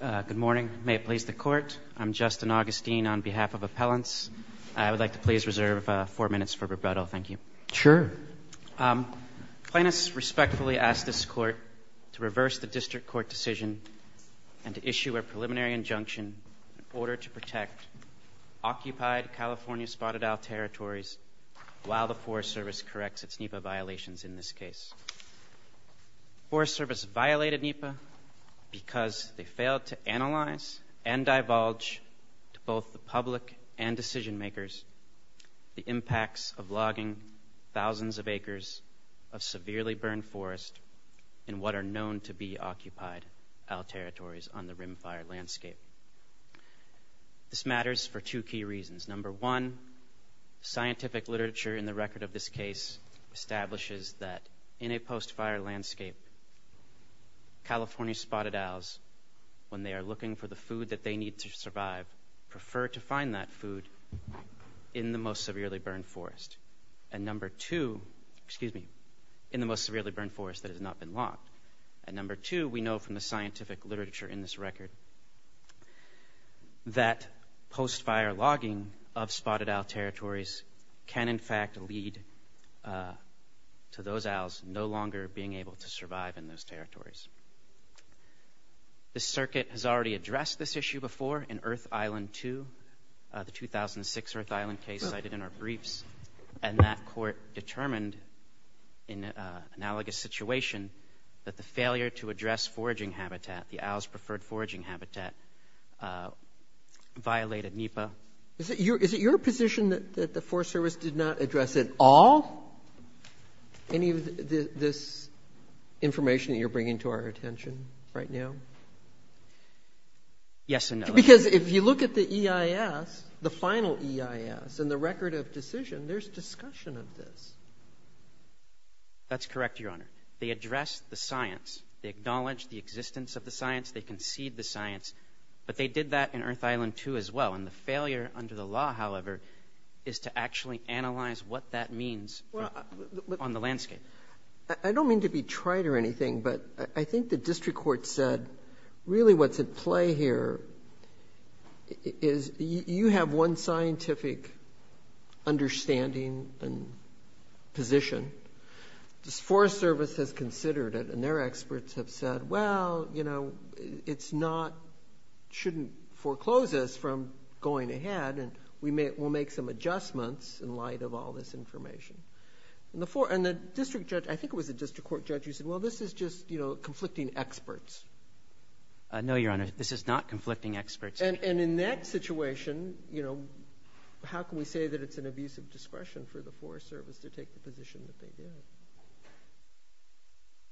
Good morning. May it please the Court, I am Justin Augustine on behalf of Appellants. I would like to please reserve four minutes for rebuttal. Thank you. Sure. Plaintiffs respectfully ask this Court to reverse the District Court decision and issue a preliminary injunction in order to protect occupied California spotted owl territories while the Forest Service corrects its NEPA violations in this case. Forest Service violated NEPA because they failed to analyze and divulge to both the public and decision makers the impacts of logging thousands of acres of severely burned forest in what are known to be occupied owl territories on the Rimfire landscape. This matters for two key reasons. Number one, scientific literature in the record of this case establishes that in a post-fire landscape, California spotted owls, when they are looking for the food that they need to survive, prefer to find that food in the most severely burned forest. And number two, excuse me, in the most severely burned forest that has not been logged. And number two, we know from the scientific literature in this record that post-fire logging of spotted owl territories can in fact lead to those owls no longer being able to survive in those territories. This Circuit has already addressed this issue before in Earth Island 2, the 2006 Earth Island case cited in our briefs, and that Court determined in an analogous situation that the failure to address foraging habitat, the owls' preferred foraging habitat, violated NEPA. Is it your position that the Forest Service did not address it all? Any of this information that you're bringing to our attention right now? Yes and no. Because if you look at the EIS, the final EIS, and the record of decision, there's discussion of this. That's correct, Your Honor. They addressed the science. They acknowledged the existence of the science. They conceded the science. But they did that in Earth Island 2 as well. And the failure under the law, however, is to actually analyze what that means on the landscape. I don't mean to be trite or anything, but I think the District Court said really what's at play here is you have one scientific understanding and position. The Forest Service has considered it, and their experts have said, well, you know, it's not, shouldn't foreclose us from going ahead, and we'll make some adjustments in light of all this information. I think it was the District Court judge who said, well, this is just conflicting experts. No, Your Honor. This is not conflicting experts. And in that situation, how can we say that it's an abuse of discretion for the Forest Service to take the position that they did?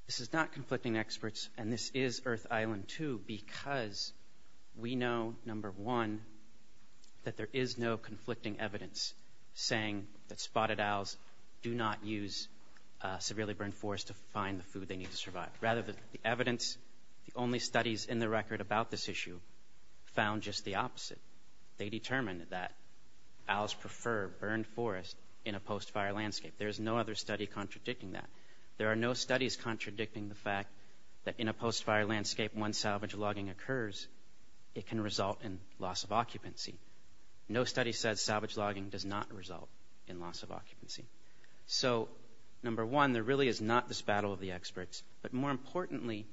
This is not conflicting experts, and this is Earth Island 2 because we know, number one, that there is no conflicting evidence saying that spotted owls do not use severely burned forest to find the food they need to survive. Rather, the evidence, the only studies in the record about this issue found just the opposite. They determined that owls prefer burned forest in a post-fire landscape. There is no other study contradicting that. There are no studies contradicting the fact that in a post-fire landscape, when salvage logging occurs, it can result in loss of occupancy. No study says salvage logging does not result in loss of occupancy. So, number one, there really is not this battle of the experts, but more importantly,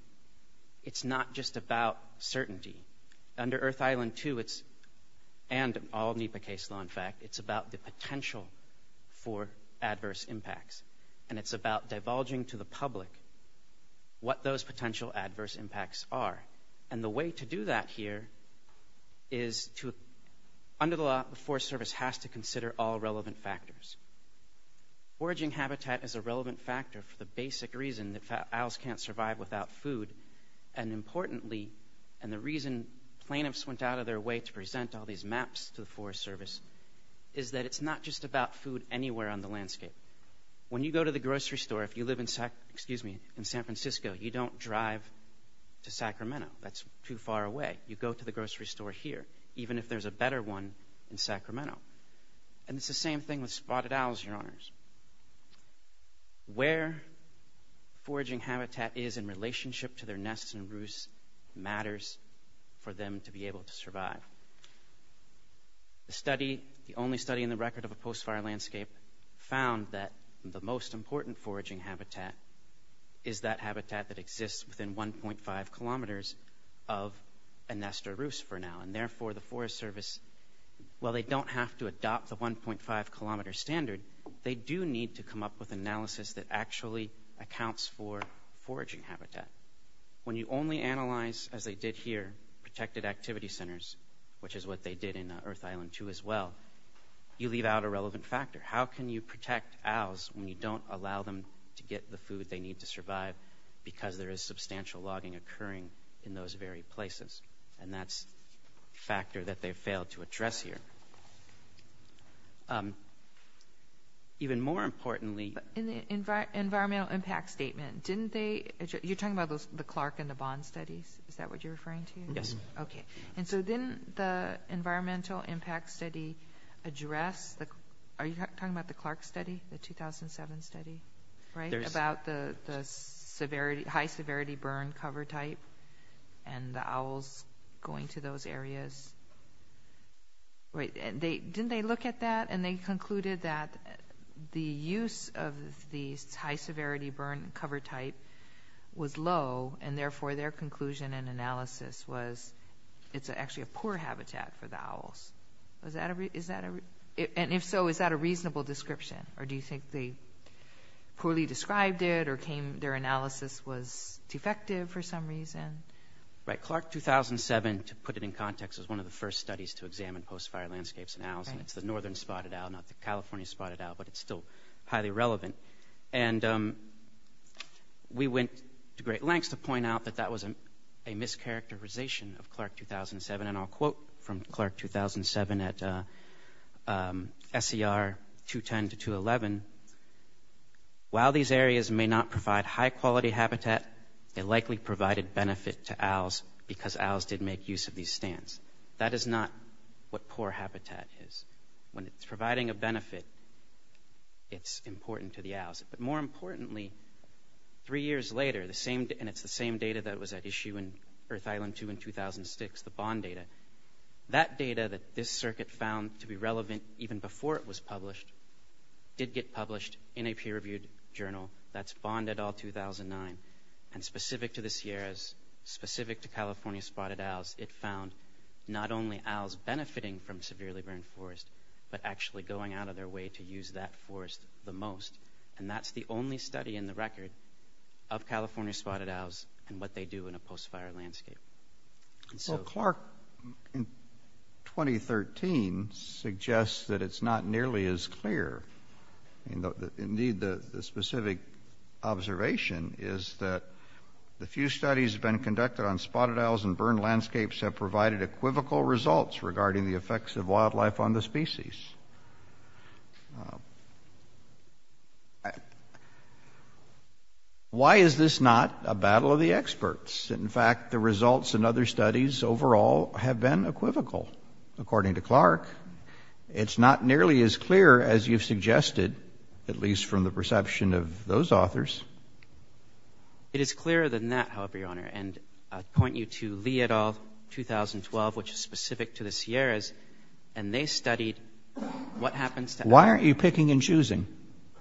it's not just about certainty. Under Earth Island 2, and all NEPA case law, in fact, it's about the potential for adverse impacts. And it's about divulging to the public what those potential adverse impacts are. And the way to do that here is to, under the law, the Forest Service has to consider all relevant factors. Foraging habitat is a relevant factor for the basic reason that owls can't survive without food. And importantly, and the reason plaintiffs went out of their way to present all these maps to the Forest Service, is that it's not just about food anywhere on the landscape. When you go to the grocery store, if you live in San Francisco, you don't drive to Sacramento. That's too far away. You go to the grocery store here, even if there's a better one in Sacramento. And it's the same thing with spotted owls, Your Honors. Where foraging habitat is in relationship to their nests and roosts matters for them to be able to survive. The only study in the record of a post-fire landscape found that the most important foraging habitat is that habitat that exists within 1.5 kilometers of a nest or roost for now. And therefore, the Forest Service, while they don't have to adopt the 1.5 kilometer standard, they do need to come up with analysis that actually accounts for foraging habitat. When you only analyze, as they did here, protected activity centers, which is what they did in Earth Island 2 as well, you leave out a relevant factor. How can you protect owls when you don't allow them to get the food they need to survive because there is substantial logging occurring in those very places? And that's a factor that they failed to address here. Even more importantly... In the environmental impact statement, didn't they... You're talking about the Clark and the Bond studies? Is that what you're referring to? Yes. Okay. And so didn't the environmental impact study address... Are you talking about the Clark study, the 2007 study? About the high-severity burn cover type and the owls going to those areas? Didn't they look at that and they concluded that the use of the high-severity burn cover type was low, and therefore their conclusion and analysis was it's actually a poor habitat for the owls. And if so, is that a reasonable description? Or do you think they poorly described it or their analysis was defective for some reason? Right. Clark 2007, to put it in context, was one of the first studies to examine post-fire landscapes in owls, and it's the northern spotted owl, not the California spotted owl, but it's still highly relevant. And we went to great lengths to point out that that was a mischaracterization of Clark 2007, and I'll quote from Clark 2007 at SCR 210 to 211. While these areas may not provide high-quality habitat, they likely provided benefit to owls because owls did make use of these stands. That is not what poor habitat is. When it's providing a benefit, it's important to the owls. But more importantly, three years later, and it's the same data that was at issue in Earth Island 2 in 2006, the bond data, that data that this circuit found to be relevant even before it was published did get published in a peer-reviewed journal. That's Bond et al. 2009. And specific to the Sierras, specific to California spotted owls, it found not only owls benefiting from severely burned forests but actually going out of their way to use that forest the most. And that's the only study in the record of California spotted owls and what they do in a post-fire landscape. Well, Clark in 2013 suggests that it's not nearly as clear. Indeed, the specific observation is that the few studies that have been conducted on spotted owls and burned landscapes have provided equivocal results regarding the effects of wildlife on the species. In fact, the results in other studies overall have been equivocal, according to Clark. It's not nearly as clear as you've suggested, at least from the perception of those authors. It is clearer than that, however, Your Honor. And I point you to Lee et al. 2012, which is specific to the Sierras, and they studied what happens to owls. Why aren't you picking and choosing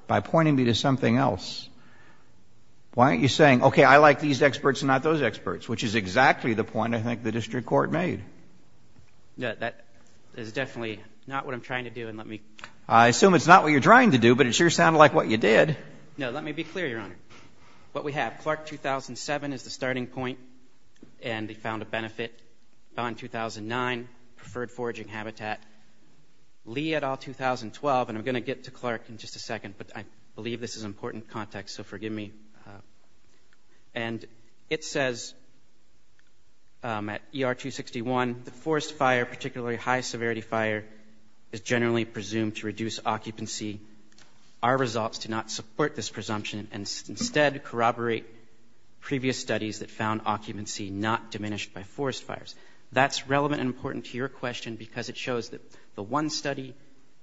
by pointing me to something else? Why aren't you saying, okay, I like these experts and not those experts, which is exactly the point I think the district court made? No, that is definitely not what I'm trying to do, and let me... I assume it's not what you're trying to do, but it sure sounded like what you did. No, let me be clear, Your Honor. What we have, Clark 2007 is the starting point, and they found a benefit. Bond 2009, preferred foraging habitat. Lee et al. 2012, and I'm going to get to Clark in just a second, but I believe this is important context, so forgive me. And it says, at ER 261, the forest fire, particularly high-severity fire, is generally presumed to reduce occupancy. Our results do not support this presumption and instead corroborate previous studies that found occupancy not diminished by forest fires. That's relevant and important to your question because it shows that the one study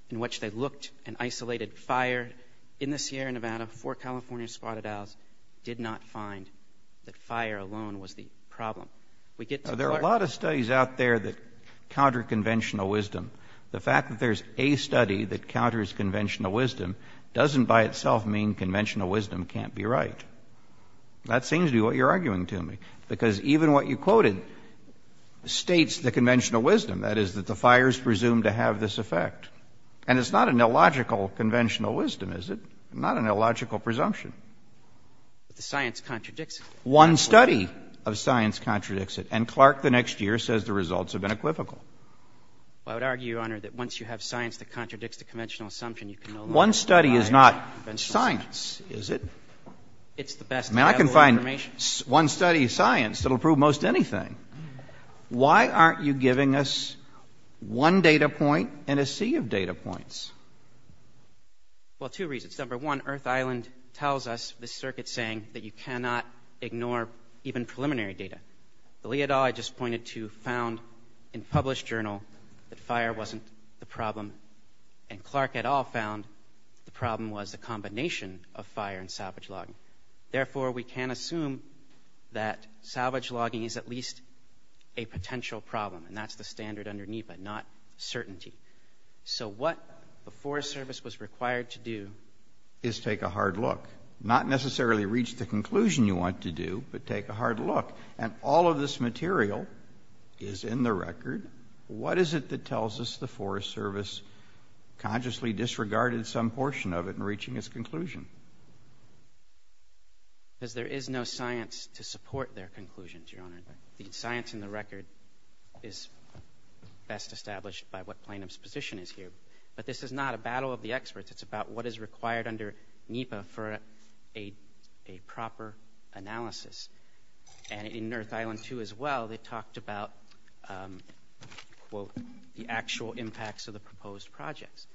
in which they looked and isolated fire in the Sierra Nevada for California spotted owls did not find that fire alone was the problem. We get to Clark. There are a lot of studies out there that counter conventional wisdom. The fact that there's a study that counters conventional wisdom doesn't by itself mean conventional wisdom can't be right. That seems to be what you're arguing to me, because even what you quoted states the conventional wisdom, that is, that the fires presumed to have this effect. And it's not an illogical conventional wisdom, is it? Not an illogical presumption. But the science contradicts it. One study of science contradicts it, and Clark the next year says the results have been equivocal. Well, I would argue, Your Honor, that once you have science that contradicts the conventional assumption, you can no longer apply conventional science. One study is not science, is it? It's the best available information. I mean, I can find one study of science that will prove most anything. Why aren't you giving us one data point and a sea of data points? Well, two reasons. Number one, Earth Island tells us, the circuit's saying, that you cannot ignore even preliminary data. The Leodaw I just pointed to found in a published journal that fire wasn't the problem, and Clark et al. found the problem was the combination of fire and salvage logging. Therefore, we can assume that salvage logging is at least a potential problem, and that's the standard under NEPA, not certainty. So what the Forest Service was required to do is take a hard look. Not necessarily reach the conclusion you want to do, but take a hard look. And all of this material is in the record. What is it that tells us the Forest Service consciously disregarded some portion of it in reaching its conclusion? Because there is no science to support their conclusions, Your Honor. The science in the record is best established by what plaintiff's position is here. But this is not a battle of the experts. It's about what is required under NEPA for a proper analysis. And in North Island 2 as well, they talked about, quote, the actual impacts of the proposed projects.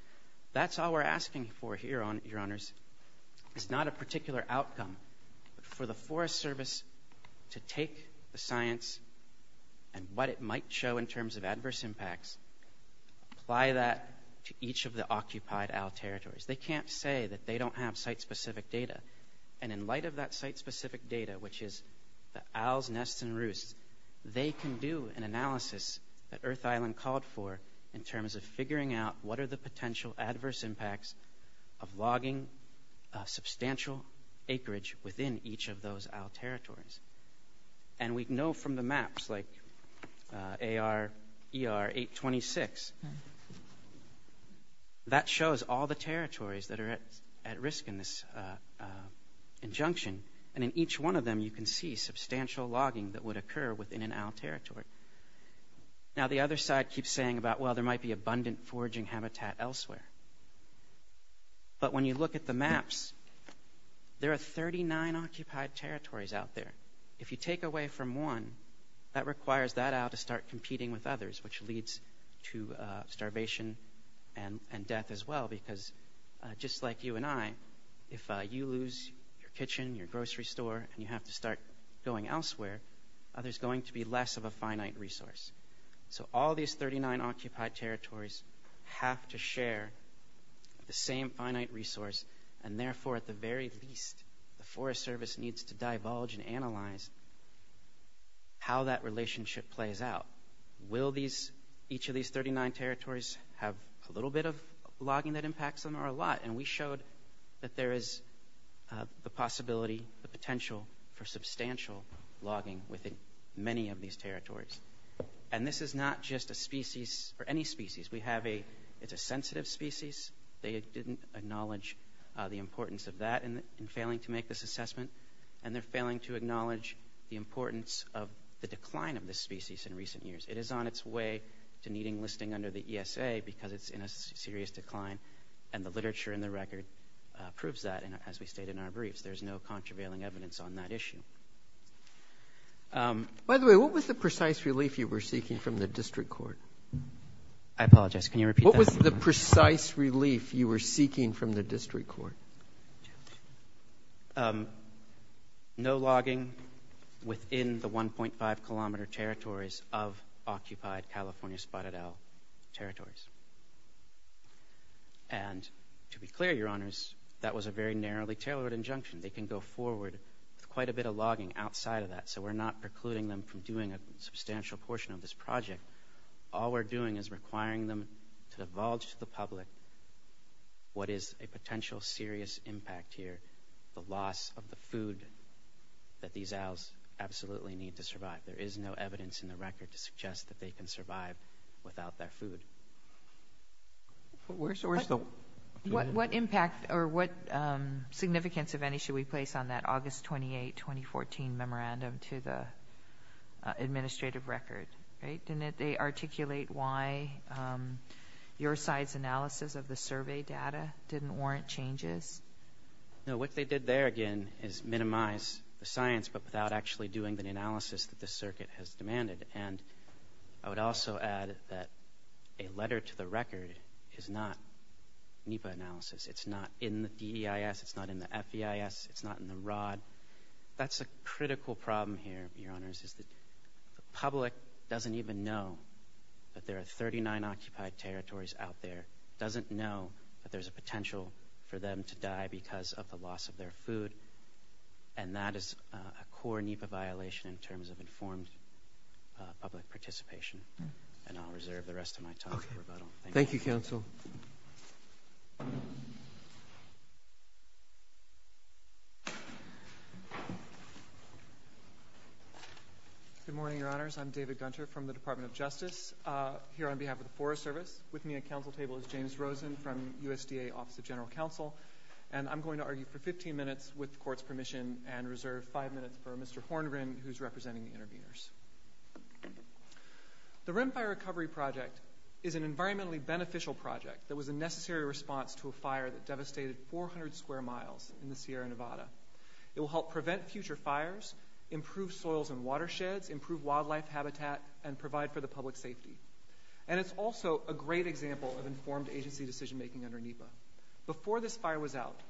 That's all we're asking for here, Your Honors. It's not a particular outcome. For the Forest Service to take the science and what it might show in terms of adverse impacts, apply that to each of the occupied AL territories. They can't say that they don't have site-specific data. And in light of that site-specific data, which is the owls, nests, and roosts, they can do an analysis that Earth Island called for in terms of figuring out what are the potential adverse impacts of logging substantial acreage within each of those AL territories. And we know from the maps, like AR ER 826, that shows all the territories that are at risk in this injunction. And in each one of them, you can see substantial logging that would occur within an AL territory. Now, the other side keeps saying about, well, there might be abundant foraging habitat elsewhere. But when you look at the maps, there are 39 occupied territories out there. If you take away from one, that requires that owl to start competing with others, which leads to starvation and death as well. Because just like you and I, if you lose your kitchen, your grocery store, and you have to start going elsewhere, there's going to be less of a finite resource. So all these 39 occupied territories have to share the same finite resource. And therefore, at the very least, the Forest Service needs to divulge and analyze how that relationship plays out. Will each of these 39 territories have a little bit of logging that impacts them or a lot? And we showed that there is the possibility, the potential, for substantial logging within many of these territories. And this is not just a species or any species. It's a sensitive species. They didn't acknowledge the importance of that in failing to make this assessment. And they're failing to acknowledge the importance of the decline of this species in recent years. It is on its way to needing listing under the ESA because it's in a serious decline. And the literature and the record proves that, as we state in our briefs. There's no contravailing evidence on that issue. By the way, what was the precise relief you were seeking from the district court? I apologize. Can you repeat that? What was the precise relief you were seeking from the district court? No logging within the 1.5-kilometer territories of occupied California spotted owl territories. And to be clear, Your Honors, that was a very narrowly tailored injunction. They can go forward with quite a bit of logging outside of that, so we're not precluding them from doing a substantial portion of this project. All we're doing is requiring them to divulge to the public what is a potential serious impact here, the loss of the food that these owls absolutely need to survive. There is no evidence in the record to suggest that they can survive without their food. What impact or what significance of any should we place on that August 28, 2014, memorandum to the administrative record? Didn't they articulate why your side's analysis of the survey data didn't warrant changes? No, what they did there, again, is minimize the science but without actually doing the analysis that the circuit has demanded. And I would also add that a letter to the record is not NEPA analysis. It's not in the DEIS. It's not in the FEIS. It's not in the ROD. That's a critical problem here, Your Honors, is that the public doesn't even know that there are 39 occupied territories out there, doesn't know that there's a potential for them to die because of the loss of their food, and that is a core NEPA violation in terms of informed public participation. And I'll reserve the rest of my time for rebuttal. Thank you, Counsel. Good morning, Your Honors. I'm David Gunter from the Department of Justice here on behalf of the Forest Service. With me at Council table is James Rosen from USDA Office of General Counsel, and I'm going to argue for 15 minutes with the Court's permission and reserve five minutes for Mr. Horngren, who's representing the interveners. The Rim Fire Recovery Project is an environmentally beneficial project that was a necessary response to a fire that devastated 400 square miles in the Sierra Nevada. It will help prevent future fires, improve soils and watersheds, improve wildlife habitat, and provide for the public's safety. And it's also a great example of informed agency decision-making under NEPA. Before this fire was out,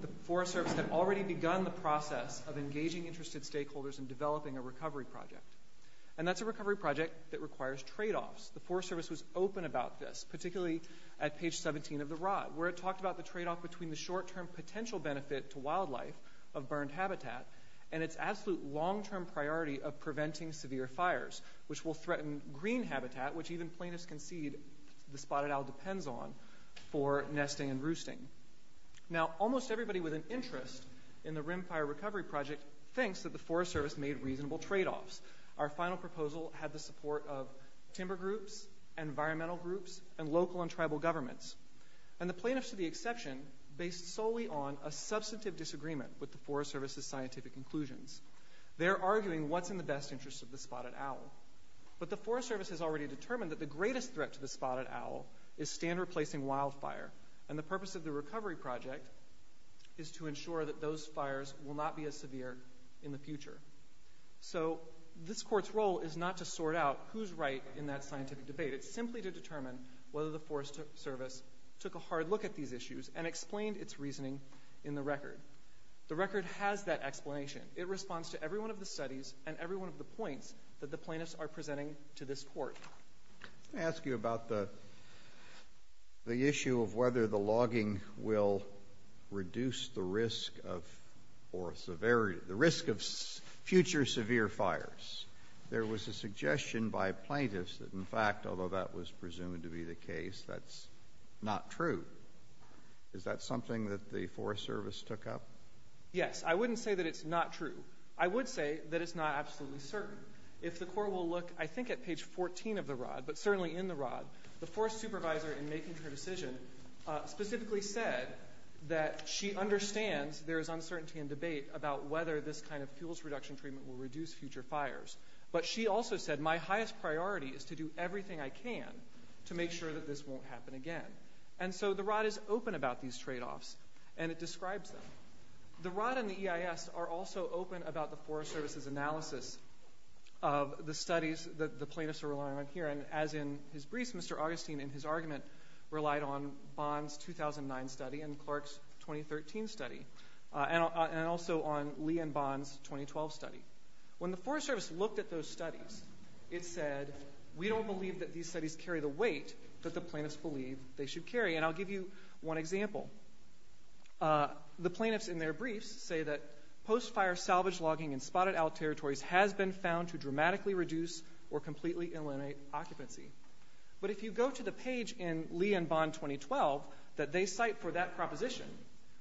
the Forest Service had already begun the process of engaging interested stakeholders in developing a recovery project. And that's a recovery project that requires tradeoffs. The Forest Service was open about this, particularly at page 17 of the rod, where it talked about the tradeoff between the short-term potential benefit to wildlife of burned habitat and its absolute long-term priority of preventing severe fires, which will threaten green habitat, which even plaintiffs concede the spotted owl depends on, for nesting and roosting. Now, almost everybody with an interest in the Rim Fire Recovery Project thinks that the Forest Service made reasonable tradeoffs. Our final proposal had the support of timber groups, environmental groups, and local and tribal governments. And the plaintiffs, to the exception, based solely on a substantive disagreement with the Forest Service's scientific conclusions. They're arguing what's in the best interest of the spotted owl. But the Forest Service has already determined that the greatest threat to the spotted owl is stand-replacing wildfire. And the purpose of the recovery project is to ensure that those fires will not be as severe in the future. So this Court's role is not to sort out who's right in that scientific debate. It's simply to determine whether the Forest Service took a hard look at these issues and explained its reasoning in the record. The record has that explanation. It responds to every one of the studies and every one of the points that the plaintiffs are presenting to this Court. Let me ask you about the issue of whether the logging will reduce the risk of future severe fires. There was a suggestion by plaintiffs that, in fact, although that was presumed to be the case, that's not true. Is that something that the Forest Service took up? Yes. I wouldn't say that it's not true. I would say that it's not absolutely certain. If the Court will look, I think, at page 14 of the Rod, but certainly in the Rod, the Forest Supervisor, in making her decision, specifically said that she understands there is uncertainty and debate about whether this kind of fuels reduction treatment will reduce future fires. But she also said, my highest priority is to do everything I can to make sure that this won't happen again. And so the Rod is open about these tradeoffs, and it describes them. The Rod and the EIS are also open about the Forest Service's analysis of the studies that the plaintiffs are relying on here. And as in his briefs, Mr. Augustine, in his argument, relied on Bond's 2009 study and Clark's 2013 study, and also on Lee and Bond's 2012 study. When the Forest Service looked at those studies, it said, we don't believe that these studies carry the weight that the plaintiffs believe they should carry. And I'll give you one example. The plaintiffs in their briefs say that post-fire salvage logging in spotted-owl territories has been found to dramatically reduce or completely eliminate occupancy. But if you go to the page in Lee and Bond 2012 that they cite for that proposition,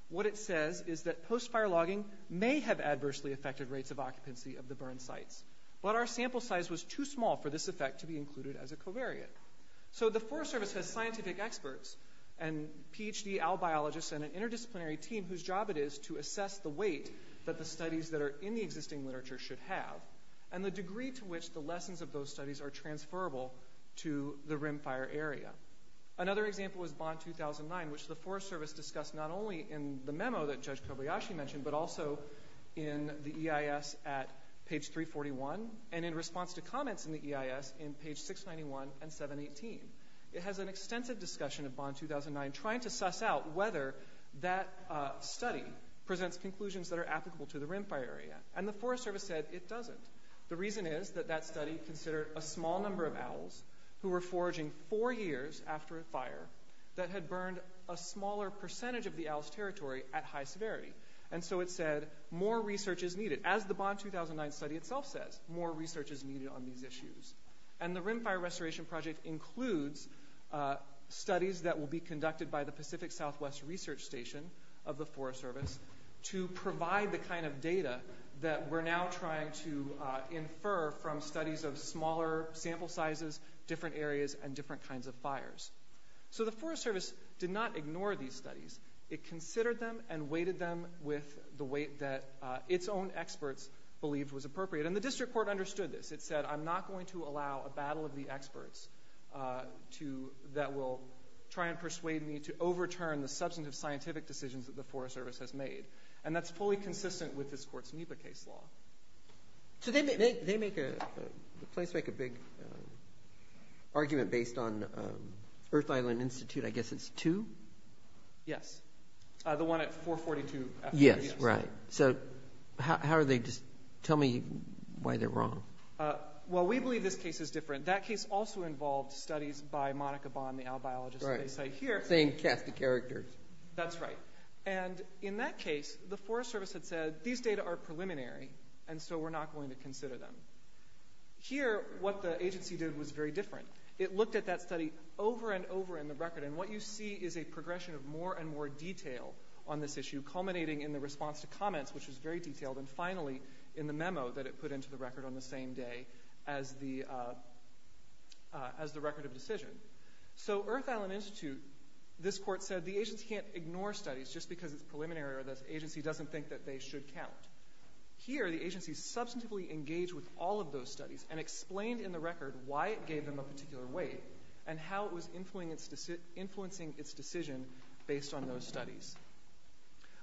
what it says is that post-fire logging may have adversely affected rates of occupancy of the burned sites. But our sample size was too small for this effect to be included as a covariate. So the Forest Service has scientific experts and Ph.D. owl biologists and an interdisciplinary team whose job it is to assess the weight that the studies that are in the existing literature should have, and the degree to which the lessons of those studies are transferable to the rimfire area. Another example is Bond 2009, which the Forest Service discussed not only in the memo that Judge Kobayashi mentioned, but also in the EIS at page 341, and in response to comments in the EIS in page 691 and 718. It has an extensive discussion of Bond 2009, trying to suss out whether that study presents conclusions that are applicable to the rimfire area. And the Forest Service said it doesn't. The reason is that that study considered a small number of owls who were foraging four years after a fire that had burned a smaller percentage of the owl's territory at high severity. And so it said, more research is needed. As the Bond 2009 study itself says, more research is needed on these issues. And the Rimfire Restoration Project includes studies that will be conducted by the Pacific Southwest Research Station of the Forest Service to provide the kind of data that we're now trying to infer from studies of smaller sample sizes, different areas, and different kinds of fires. So the Forest Service did not ignore these studies. It considered them and weighted them with the weight that its own experts believed was appropriate. And the district court understood this. It said, I'm not going to allow a battle of the experts that will try and persuade me to overturn the substantive scientific decisions that the Forest Service has made. And that's fully consistent with this court's NEPA case law. So they make a big argument based on Earth Island Institute. I guess it's two? Yes. The one at 442. Yes, right. So how are they just – tell me why they're wrong. Well, we believe this case is different. That case also involved studies by Monica Bond, the owl biologist, as they say here. Same cast of characters. That's right. And in that case, the Forest Service had said, these data are preliminary, and so we're not going to consider them. Here, what the agency did was very different. It looked at that study over and over in the record, and what you see is a progression of more and more detail on this issue, culminating in the response to comments, which was very detailed, and finally in the memo that it put into the record on the same day as the record of decision. So Earth Island Institute, this court said, the agency can't ignore studies just because it's preliminary or the agency doesn't think that they should count. Here, the agency substantively engaged with all of those studies and explained in the record why it gave them a particular weight and how it was influencing its decision based on those studies.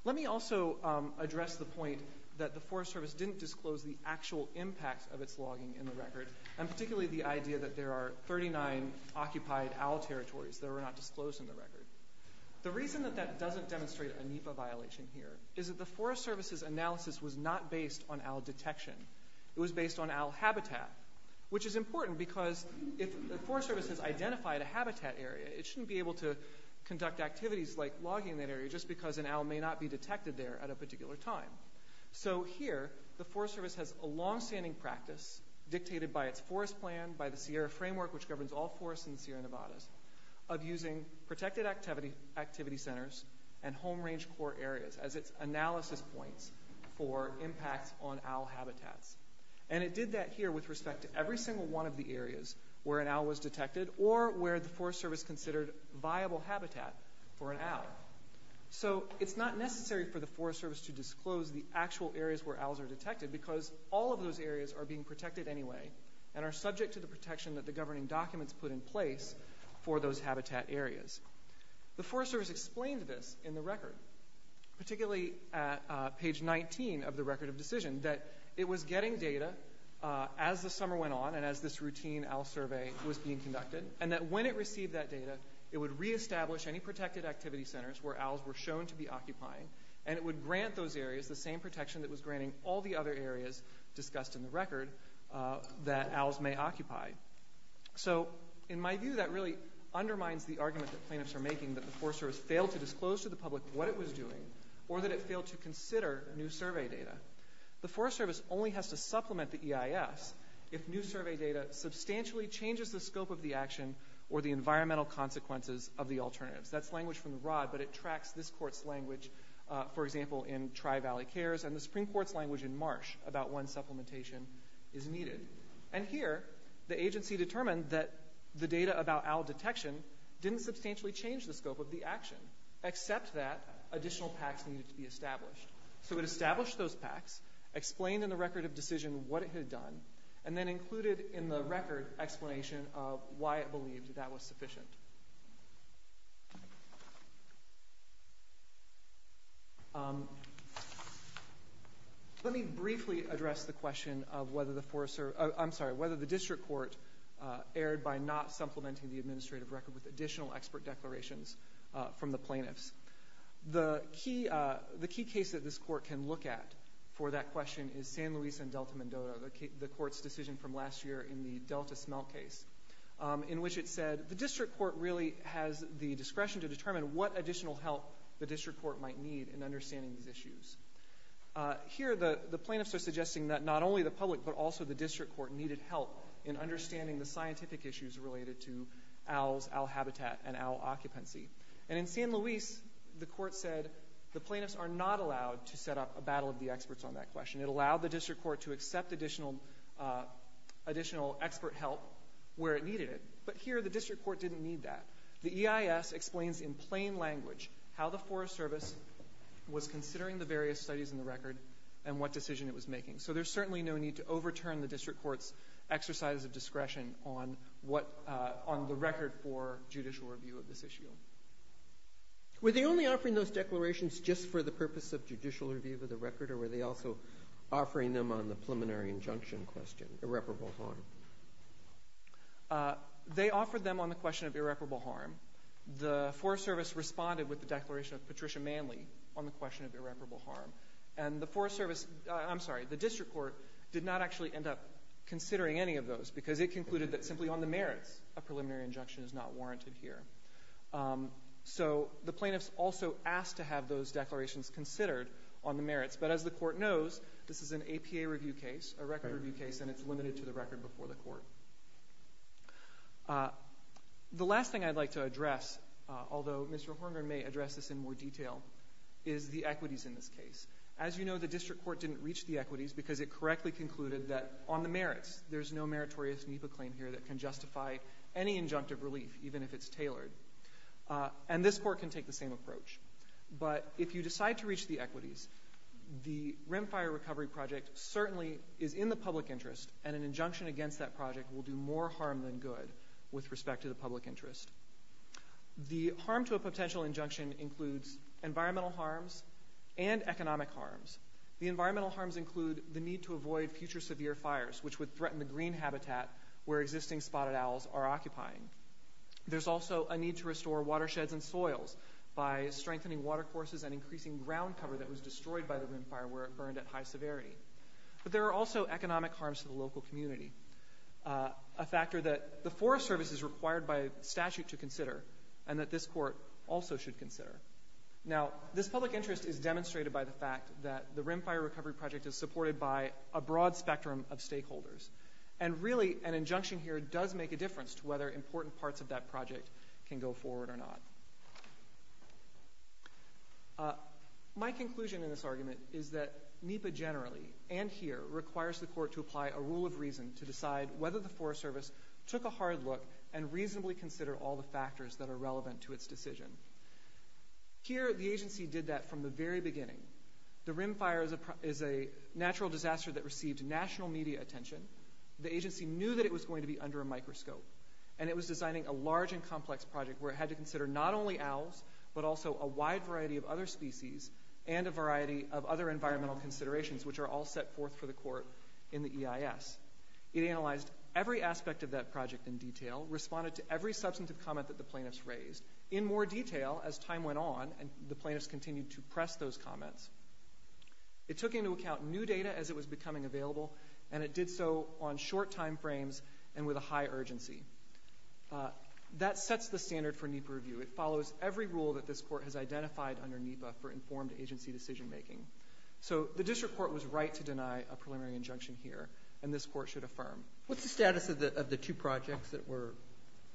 Let me also address the point that the Forest Service didn't disclose the actual impact of its logging in the record, and particularly the idea that there are 39 occupied owl territories that were not disclosed in the record. The reason that that doesn't demonstrate a NEPA violation here is that the Forest Service's analysis was not based on owl detection. It was based on owl habitat, which is important because if the Forest Service has identified a habitat area, it shouldn't be able to conduct activities like logging that area just because an owl may not be detected there at a particular time. So here, the Forest Service has a longstanding practice, dictated by its forest plan, by the Sierra framework, which governs all forests in the Sierra Nevadas, of using protected activity centers and home range core areas as its analysis points for impacts on owl habitats. And it did that here with respect to every single one of the areas where an owl was detected or where the Forest Service considered viable habitat for an owl. So it's not necessary for the Forest Service to disclose the actual areas where owls are detected, because all of those areas are being protected anyway and are subject to the protection that the governing documents put in place for those habitat areas. The Forest Service explained this in the record, particularly at page 19 of the record of decision, that it was getting data as the summer went on and that when it received that data, it would re-establish any protected activity centers where owls were shown to be occupying, and it would grant those areas the same protection that was granting all the other areas discussed in the record that owls may occupy. So in my view, that really undermines the argument that plaintiffs are making that the Forest Service failed to disclose to the public what it was doing or that it failed to consider new survey data. The Forest Service only has to supplement the EIS if new survey data substantially changes the scope of the action or the environmental consequences of the alternatives. That's language from the broad, but it tracks this court's language, for example, in Tri-Valley Cares, and the Supreme Court's language in Marsh about when supplementation is needed. And here, the agency determined that the data about owl detection didn't substantially change the scope of the action, except that additional PACs needed to be established. So it established those PACs, explained in the record of decision what it had done, and then included in the record explanation of why it believed that that was sufficient. Let me briefly address the question of whether the District Court erred by not supplementing the administrative record with additional expert declarations from the plaintiffs. The key case that this court can look at for that question is San Luis and Delta Mendota, the court's decision from last year in the Delta Smell case, in which it said the District Court really has the discretion to determine what additional help the District Court might need in understanding these issues. Here, the plaintiffs are suggesting that not only the public, but also the District Court needed help in understanding the scientific issues related to owls, owl habitat, and owl occupancy. And in San Luis, the court said the plaintiffs are not allowed to set up a battle of the experts on that question. It allowed the District Court to accept additional expert help where it needed it. But here, the District Court didn't need that. The EIS explains in plain language how the Forest Service was considering the various studies in the record and what decision it was making. So there's certainly no need to overturn the District Court's exercise of discretion on the record for judicial review of this issue. Were they only offering those declarations just for the purpose of judicial review of the record, or were they also offering them on the preliminary injunction question, irreparable harm? They offered them on the question of irreparable harm. The Forest Service responded with the declaration of Patricia Manley on the question of irreparable harm. And the District Court did not actually end up considering any of those because it concluded that simply on the merits a preliminary injunction is not warranted here. So the plaintiffs also asked to have those declarations considered on the merits. But as the court knows, this is an APA review case, a record review case, and it's limited to the record before the court. The last thing I'd like to address, although Mr. Horner may address this in more detail, is the equities in this case. As you know, the District Court didn't reach the equities because it correctly concluded that on the merits, there's no meritorious NEPA claim here that can justify any injunctive relief, even if it's tailored. And this court can take the same approach. But if you decide to reach the equities, the Rim Fire Recovery Project certainly is in the public interest, and an injunction against that project will do more harm than good with respect to the public interest. The harm to a potential injunction includes environmental harms and economic harms. The environmental harms include the need to avoid future severe fires, which would threaten the green habitat where existing spotted owls are occupying. There's also a need to restore watersheds and soils by strengthening watercourses and increasing ground cover that was destroyed by the Rim Fire where it burned at high severity. But there are also economic harms to the local community, a factor that the Forest Service is required by statute to consider and that this court also should consider. Now, this public interest is demonstrated by the fact that the Rim Fire Recovery Project is supported by a broad spectrum of stakeholders. And really, an injunction here does make a difference to whether important parts of that project can go forward or not. My conclusion in this argument is that NEPA generally, and here, requires the court to apply a rule of reason to decide whether the Forest Service took a hard look and reasonably considered all the factors that are relevant to its decision. Here, the agency did that from the very beginning. The Rim Fire is a natural disaster that received national media attention. The agency knew that it was going to be under a microscope. And it was designing a large and complex project where it had to consider not only owls, but also a wide variety of other species and a variety of other environmental considerations, which are all set forth for the court in the EIS. It analyzed every aspect of that project in detail, responded to every substantive comment that the plaintiffs raised. In more detail, as time went on, and the plaintiffs continued to press those comments, it took into account new data as it was becoming available, and it did so on short timeframes and with a high urgency. That sets the standard for NEPA review. It follows every rule that this court has identified under NEPA for informed agency decision-making. So the district court was right to deny a preliminary injunction here, and this court should affirm. What's the status of the two projects that were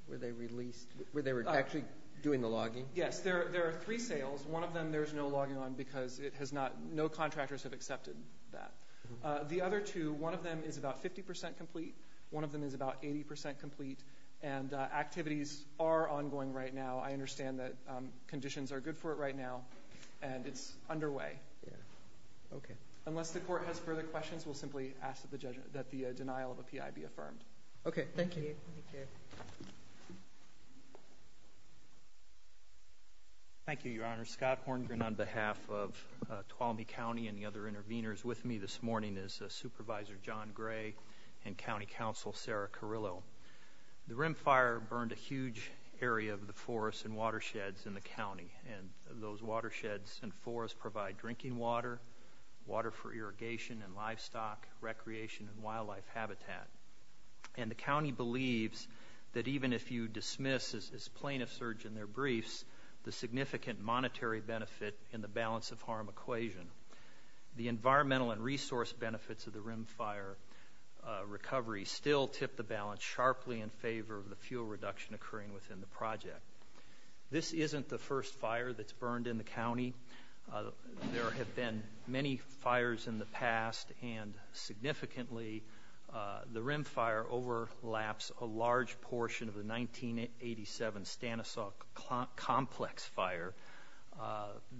released, where they were actually doing the logging? Yes, there are three sales. One of them there's no logging on because no contractors have accepted that. The other two, one of them is about 50% complete, one of them is about 80% complete, and activities are ongoing right now. I understand that conditions are good for it right now, and it's underway. Unless the court has further questions, we'll simply ask that the denial of a P.I. be affirmed. Okay, thank you. Thank you, Your Honor. Scott Horngren on behalf of Tuolumne County and the other interveners with me this morning is Supervisor John Gray and County Counsel Sarah Carrillo. The Rim Fire burned a huge area of the forests and watersheds in the county, and those watersheds and forests provide drinking water, water for irrigation and livestock, recreation and wildlife habitat. And the county believes that even if you dismiss, as plaintiffs urge in their briefs, the significant monetary benefit in the balance of harm equation, the environmental and resource benefits of the Rim Fire recovery still tip the balance sharply in favor of the fuel reduction occurring within the project. This isn't the first fire that's burned in the county. There have been many fires in the past, and significantly the Rim Fire overlaps a large portion of the 1987 Stanislaus Complex Fire.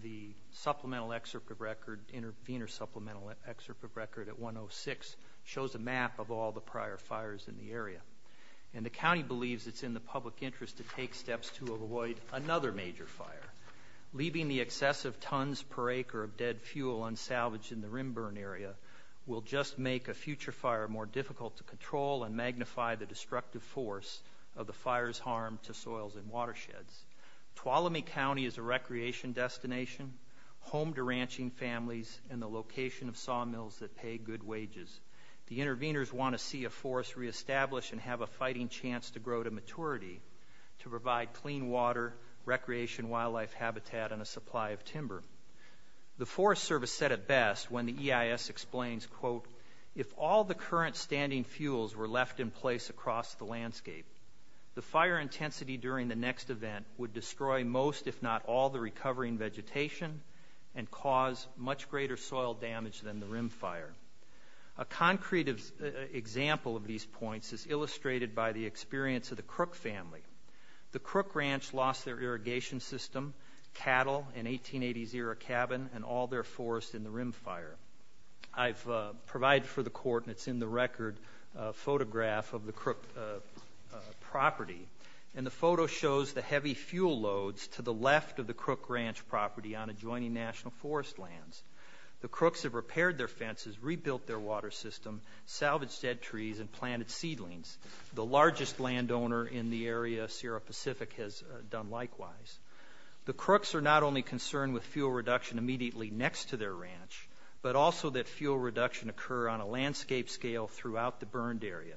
The supplemental excerpt of record, the inter-supplemental excerpt of record at 106 shows a map of all the prior fires in the area. And the county believes it's in the public interest to take steps to avoid another major fire. Leaving the excessive tons per acre of dead fuel unsalvaged in the Rim Burn area will just make a future fire more difficult to control and magnify the destructive force of the fire's harm to soils and watersheds. Tuolumne County is a recreation destination, home to ranching families and the location of sawmills that pay good wages. The interveners want to see a forest re-established and have a fighting chance to grow to maturity to provide clean water, recreation wildlife habitat, and a supply of timber. The Forest Service said it best when the EIS explains, quote, if all the current standing fuels were left in place across the landscape, the fire intensity during the next event would destroy most if not all the recovering vegetation and cause much greater soil damage than the Rim Fire. A concrete example of these points is illustrated by the experience of the Crook family. The Crook Ranch lost their irrigation system, cattle, an 1880s-era cabin, and all their forest in the Rim Fire. I've provided for the court, and it's in the record photograph of the Crook property. And the photo shows the heavy fuel loads to the left of the Crook Ranch property on adjoining national forest lands. The Crooks have repaired their fences, rebuilt their water system, salvaged dead trees, and planted seedlings. The largest landowner in the area, Sierra Pacific, has done likewise. The Crooks are not only concerned with fuel reduction immediately next to their ranch, but also that fuel reduction occur on a landscape scale throughout the burned area.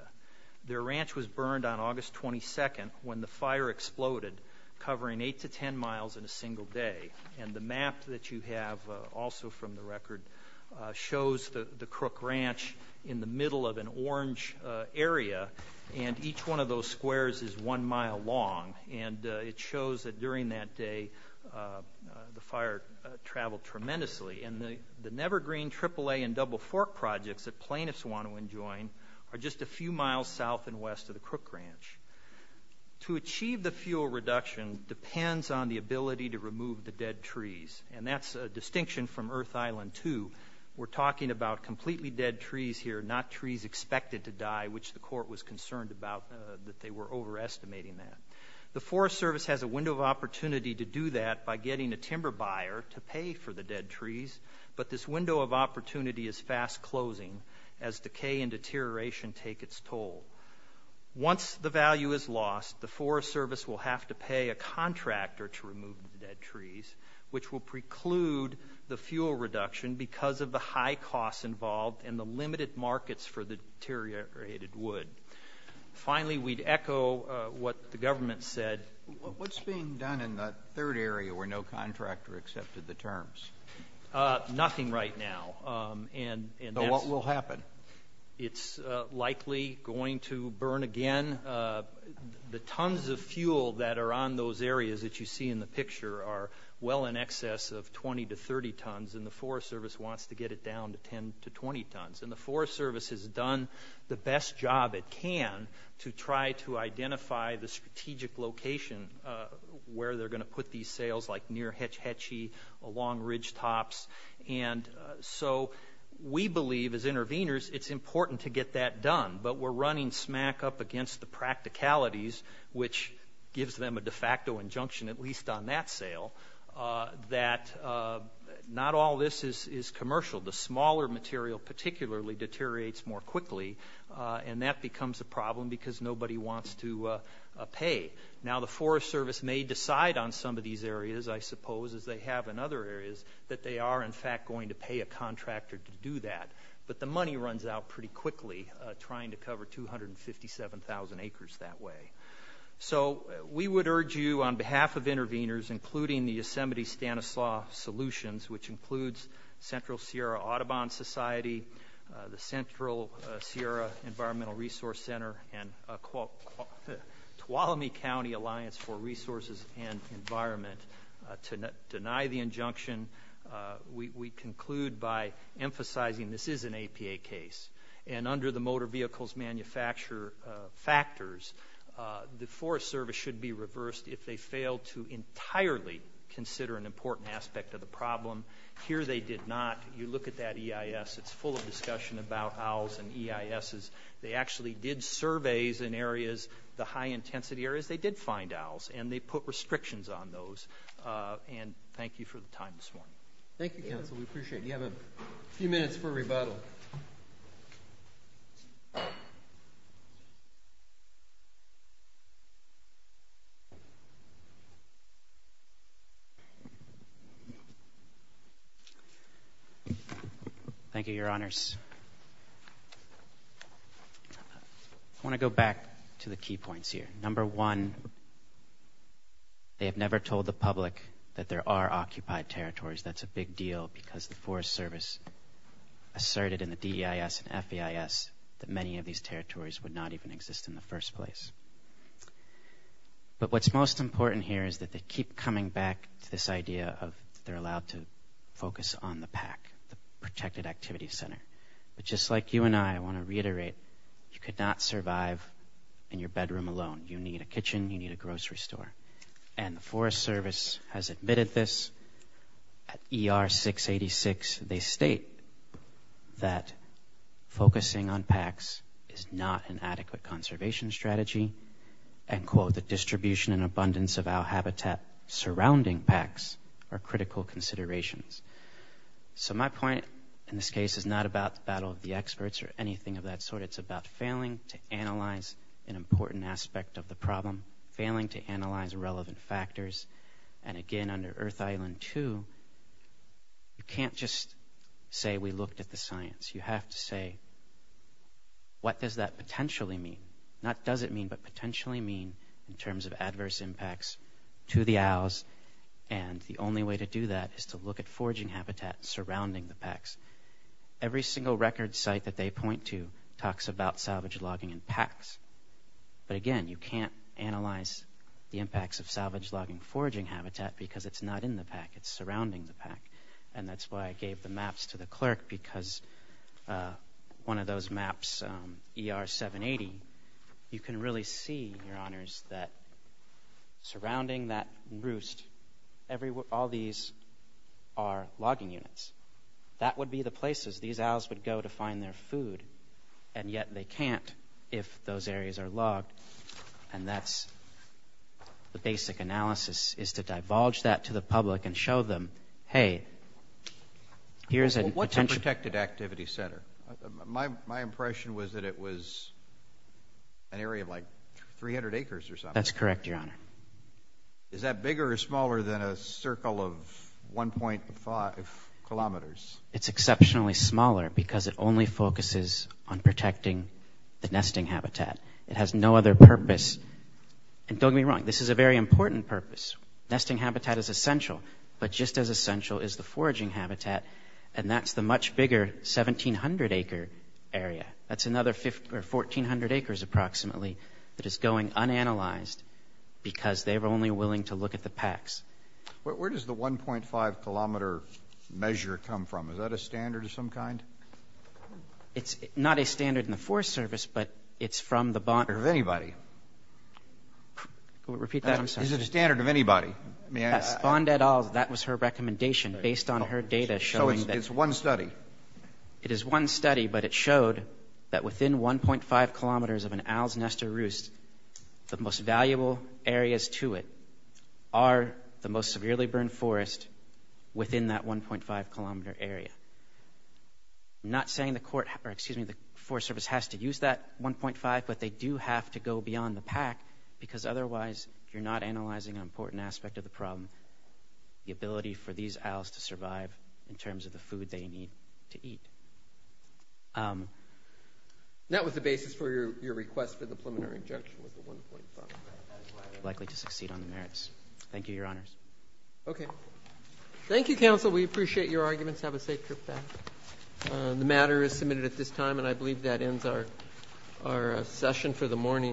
Their ranch was burned on August 22nd when the fire exploded, covering 8 to 10 miles in a single day. And the map that you have also from the record shows the Crook Ranch in the middle of an orange area, and each one of those squares is one mile long. And it shows that during that day the fire traveled tremendously. And the Nevergreen AAA and Double Fork projects that plaintiffs want to enjoin are just a few miles south and west of the Crook Ranch. To achieve the fuel reduction depends on the ability to remove the dead trees, and that's a distinction from Earth Island 2. We're talking about completely dead trees here, not trees expected to die, which the court was concerned about that they were overestimating that. The Forest Service has a window of opportunity to do that by getting a timber buyer to pay for the dead trees, but this window of opportunity is fast closing as decay and deterioration take its toll. Once the value is lost, the Forest Service will have to pay a contractor to remove the dead trees, which will preclude the fuel reduction because of the high costs involved and the limited markets for the deteriorated wood. Finally, we'd echo what the government said. What's being done in the third area where no contractor accepted the terms? Nothing right now. So what will happen? It's likely going to burn again. The tons of fuel that are on those areas that you see in the picture are well in excess of 20 to 30 tons, and the Forest Service wants to get it down to 10 to 20 tons, and the Forest Service has done the best job it can to try to identify the strategic location where they're going to put these sales, like near Hetch Hetchy, along ridgetops. And so we believe, as interveners, it's important to get that done, but we're running smack up against the practicalities, which gives them a de facto injunction, at least on that sale, that not all this is commercial. The smaller material particularly deteriorates more quickly, and that becomes a problem because nobody wants to pay. Now, the Forest Service may decide on some of these areas, I suppose, as they have in other areas, that they are in fact going to pay a contractor to do that, but the money runs out pretty quickly trying to cover 257,000 acres that way. So we would urge you on behalf of interveners, including the Yosemite Stanislaus Solutions, which includes Central Sierra Audubon Society, the Central Sierra Environmental Resource Center, and Tuolumne County Alliance for Resources and Environment to deny the injunction. We conclude by emphasizing this is an APA case, and under the motor vehicles manufacturer factors, the Forest Service should be reversed if they fail to entirely consider an important aspect of the problem. Here they did not. You look at that EIS. It's full of discussion about OWLS and EISs. They actually did surveys in areas, the high-intensity areas, they did find OWLS, and they put restrictions on those, and thank you for the time this morning. Thank you, counsel. We appreciate it. You have a few minutes for rebuttal. Thank you. Thank you, Your Honors. I want to go back to the key points here. Number one, they have never told the public that there are occupied territories. That's a big deal because the Forest Service asserted in the DEIS and FEIS that many of these territories would not even exist in the first place. But what's most important here is that they keep coming back to this idea of they're allowed to focus on the PAC, the Protected Activity Center. But just like you and I, I want to reiterate, you could not survive in your bedroom alone. You need a kitchen. You need a grocery store. And the Forest Service has admitted this. At ER-686, they state that focusing on PACs is not an adequate conservation strategy. And, quote, the distribution and abundance of OWL habitat surrounding PACs are critical considerations. So my point in this case is not about the battle of the experts or anything of that sort. It's about failing to analyze an important aspect of the problem, failing to analyze relevant factors. And, again, under Earth Island 2, you can't just say we looked at the science. You have to say, what does that potentially mean? Not does it mean, but potentially mean in terms of adverse impacts to the OWLs. And the only way to do that is to look at foraging habitat surrounding the PACs. Every single record site that they point to talks about salvage logging and PACs. But, again, you can't analyze the impacts of salvage logging foraging habitat because it's not in the PAC. It's surrounding the PAC. And that's why I gave the maps to the clerk because one of those maps, ER-780, you can really see, Your Honors, that surrounding that roost, all these are logging units. That would be the places these OWLs would go to find their food. And yet they can't if those areas are logged. And that's the basic analysis is to divulge that to the public and show them, hey, here's a potential. Well, what's a protected activity center? My impression was that it was an area of like 300 acres or something. That's correct, Your Honor. Is that bigger or smaller than a circle of 1.5 kilometers? It's exceptionally smaller because it only focuses on protecting the nesting habitat. It has no other purpose. And don't get me wrong, this is a very important purpose. Nesting habitat is essential, but just as essential is the foraging habitat, and that's the much bigger 1,700-acre area. That's another 1,400 acres approximately that is going unanalyzed because they were only willing to look at the PACs. Where does the 1.5-kilometer measure come from? Is that a standard of some kind? It's not a standard in the Forest Service, but it's from the bond. Is it a standard of anybody? Repeat that, I'm sorry. Is it a standard of anybody? Bond et al., that was her recommendation based on her data showing that. So it's one study? It is one study, but it showed that within 1.5 kilometers of an owl's nest or roost, the most valuable areas to it are the most severely burned forest within that 1.5-kilometer area. I'm not saying the Forest Service has to use that 1.5, but they do have to go beyond the PAC because otherwise you're not analyzing an important aspect of the problem, the ability for these owls to survive in terms of the food they need to eat. That was the basis for your request for the preliminary injunction with the 1.5. Likely to succeed on the merits. Thank you, Your Honors. Okay. Thank you, counsel. We appreciate your arguments. Have a safe trip back. The matter is submitted at this time, and I believe that ends our session for the morning.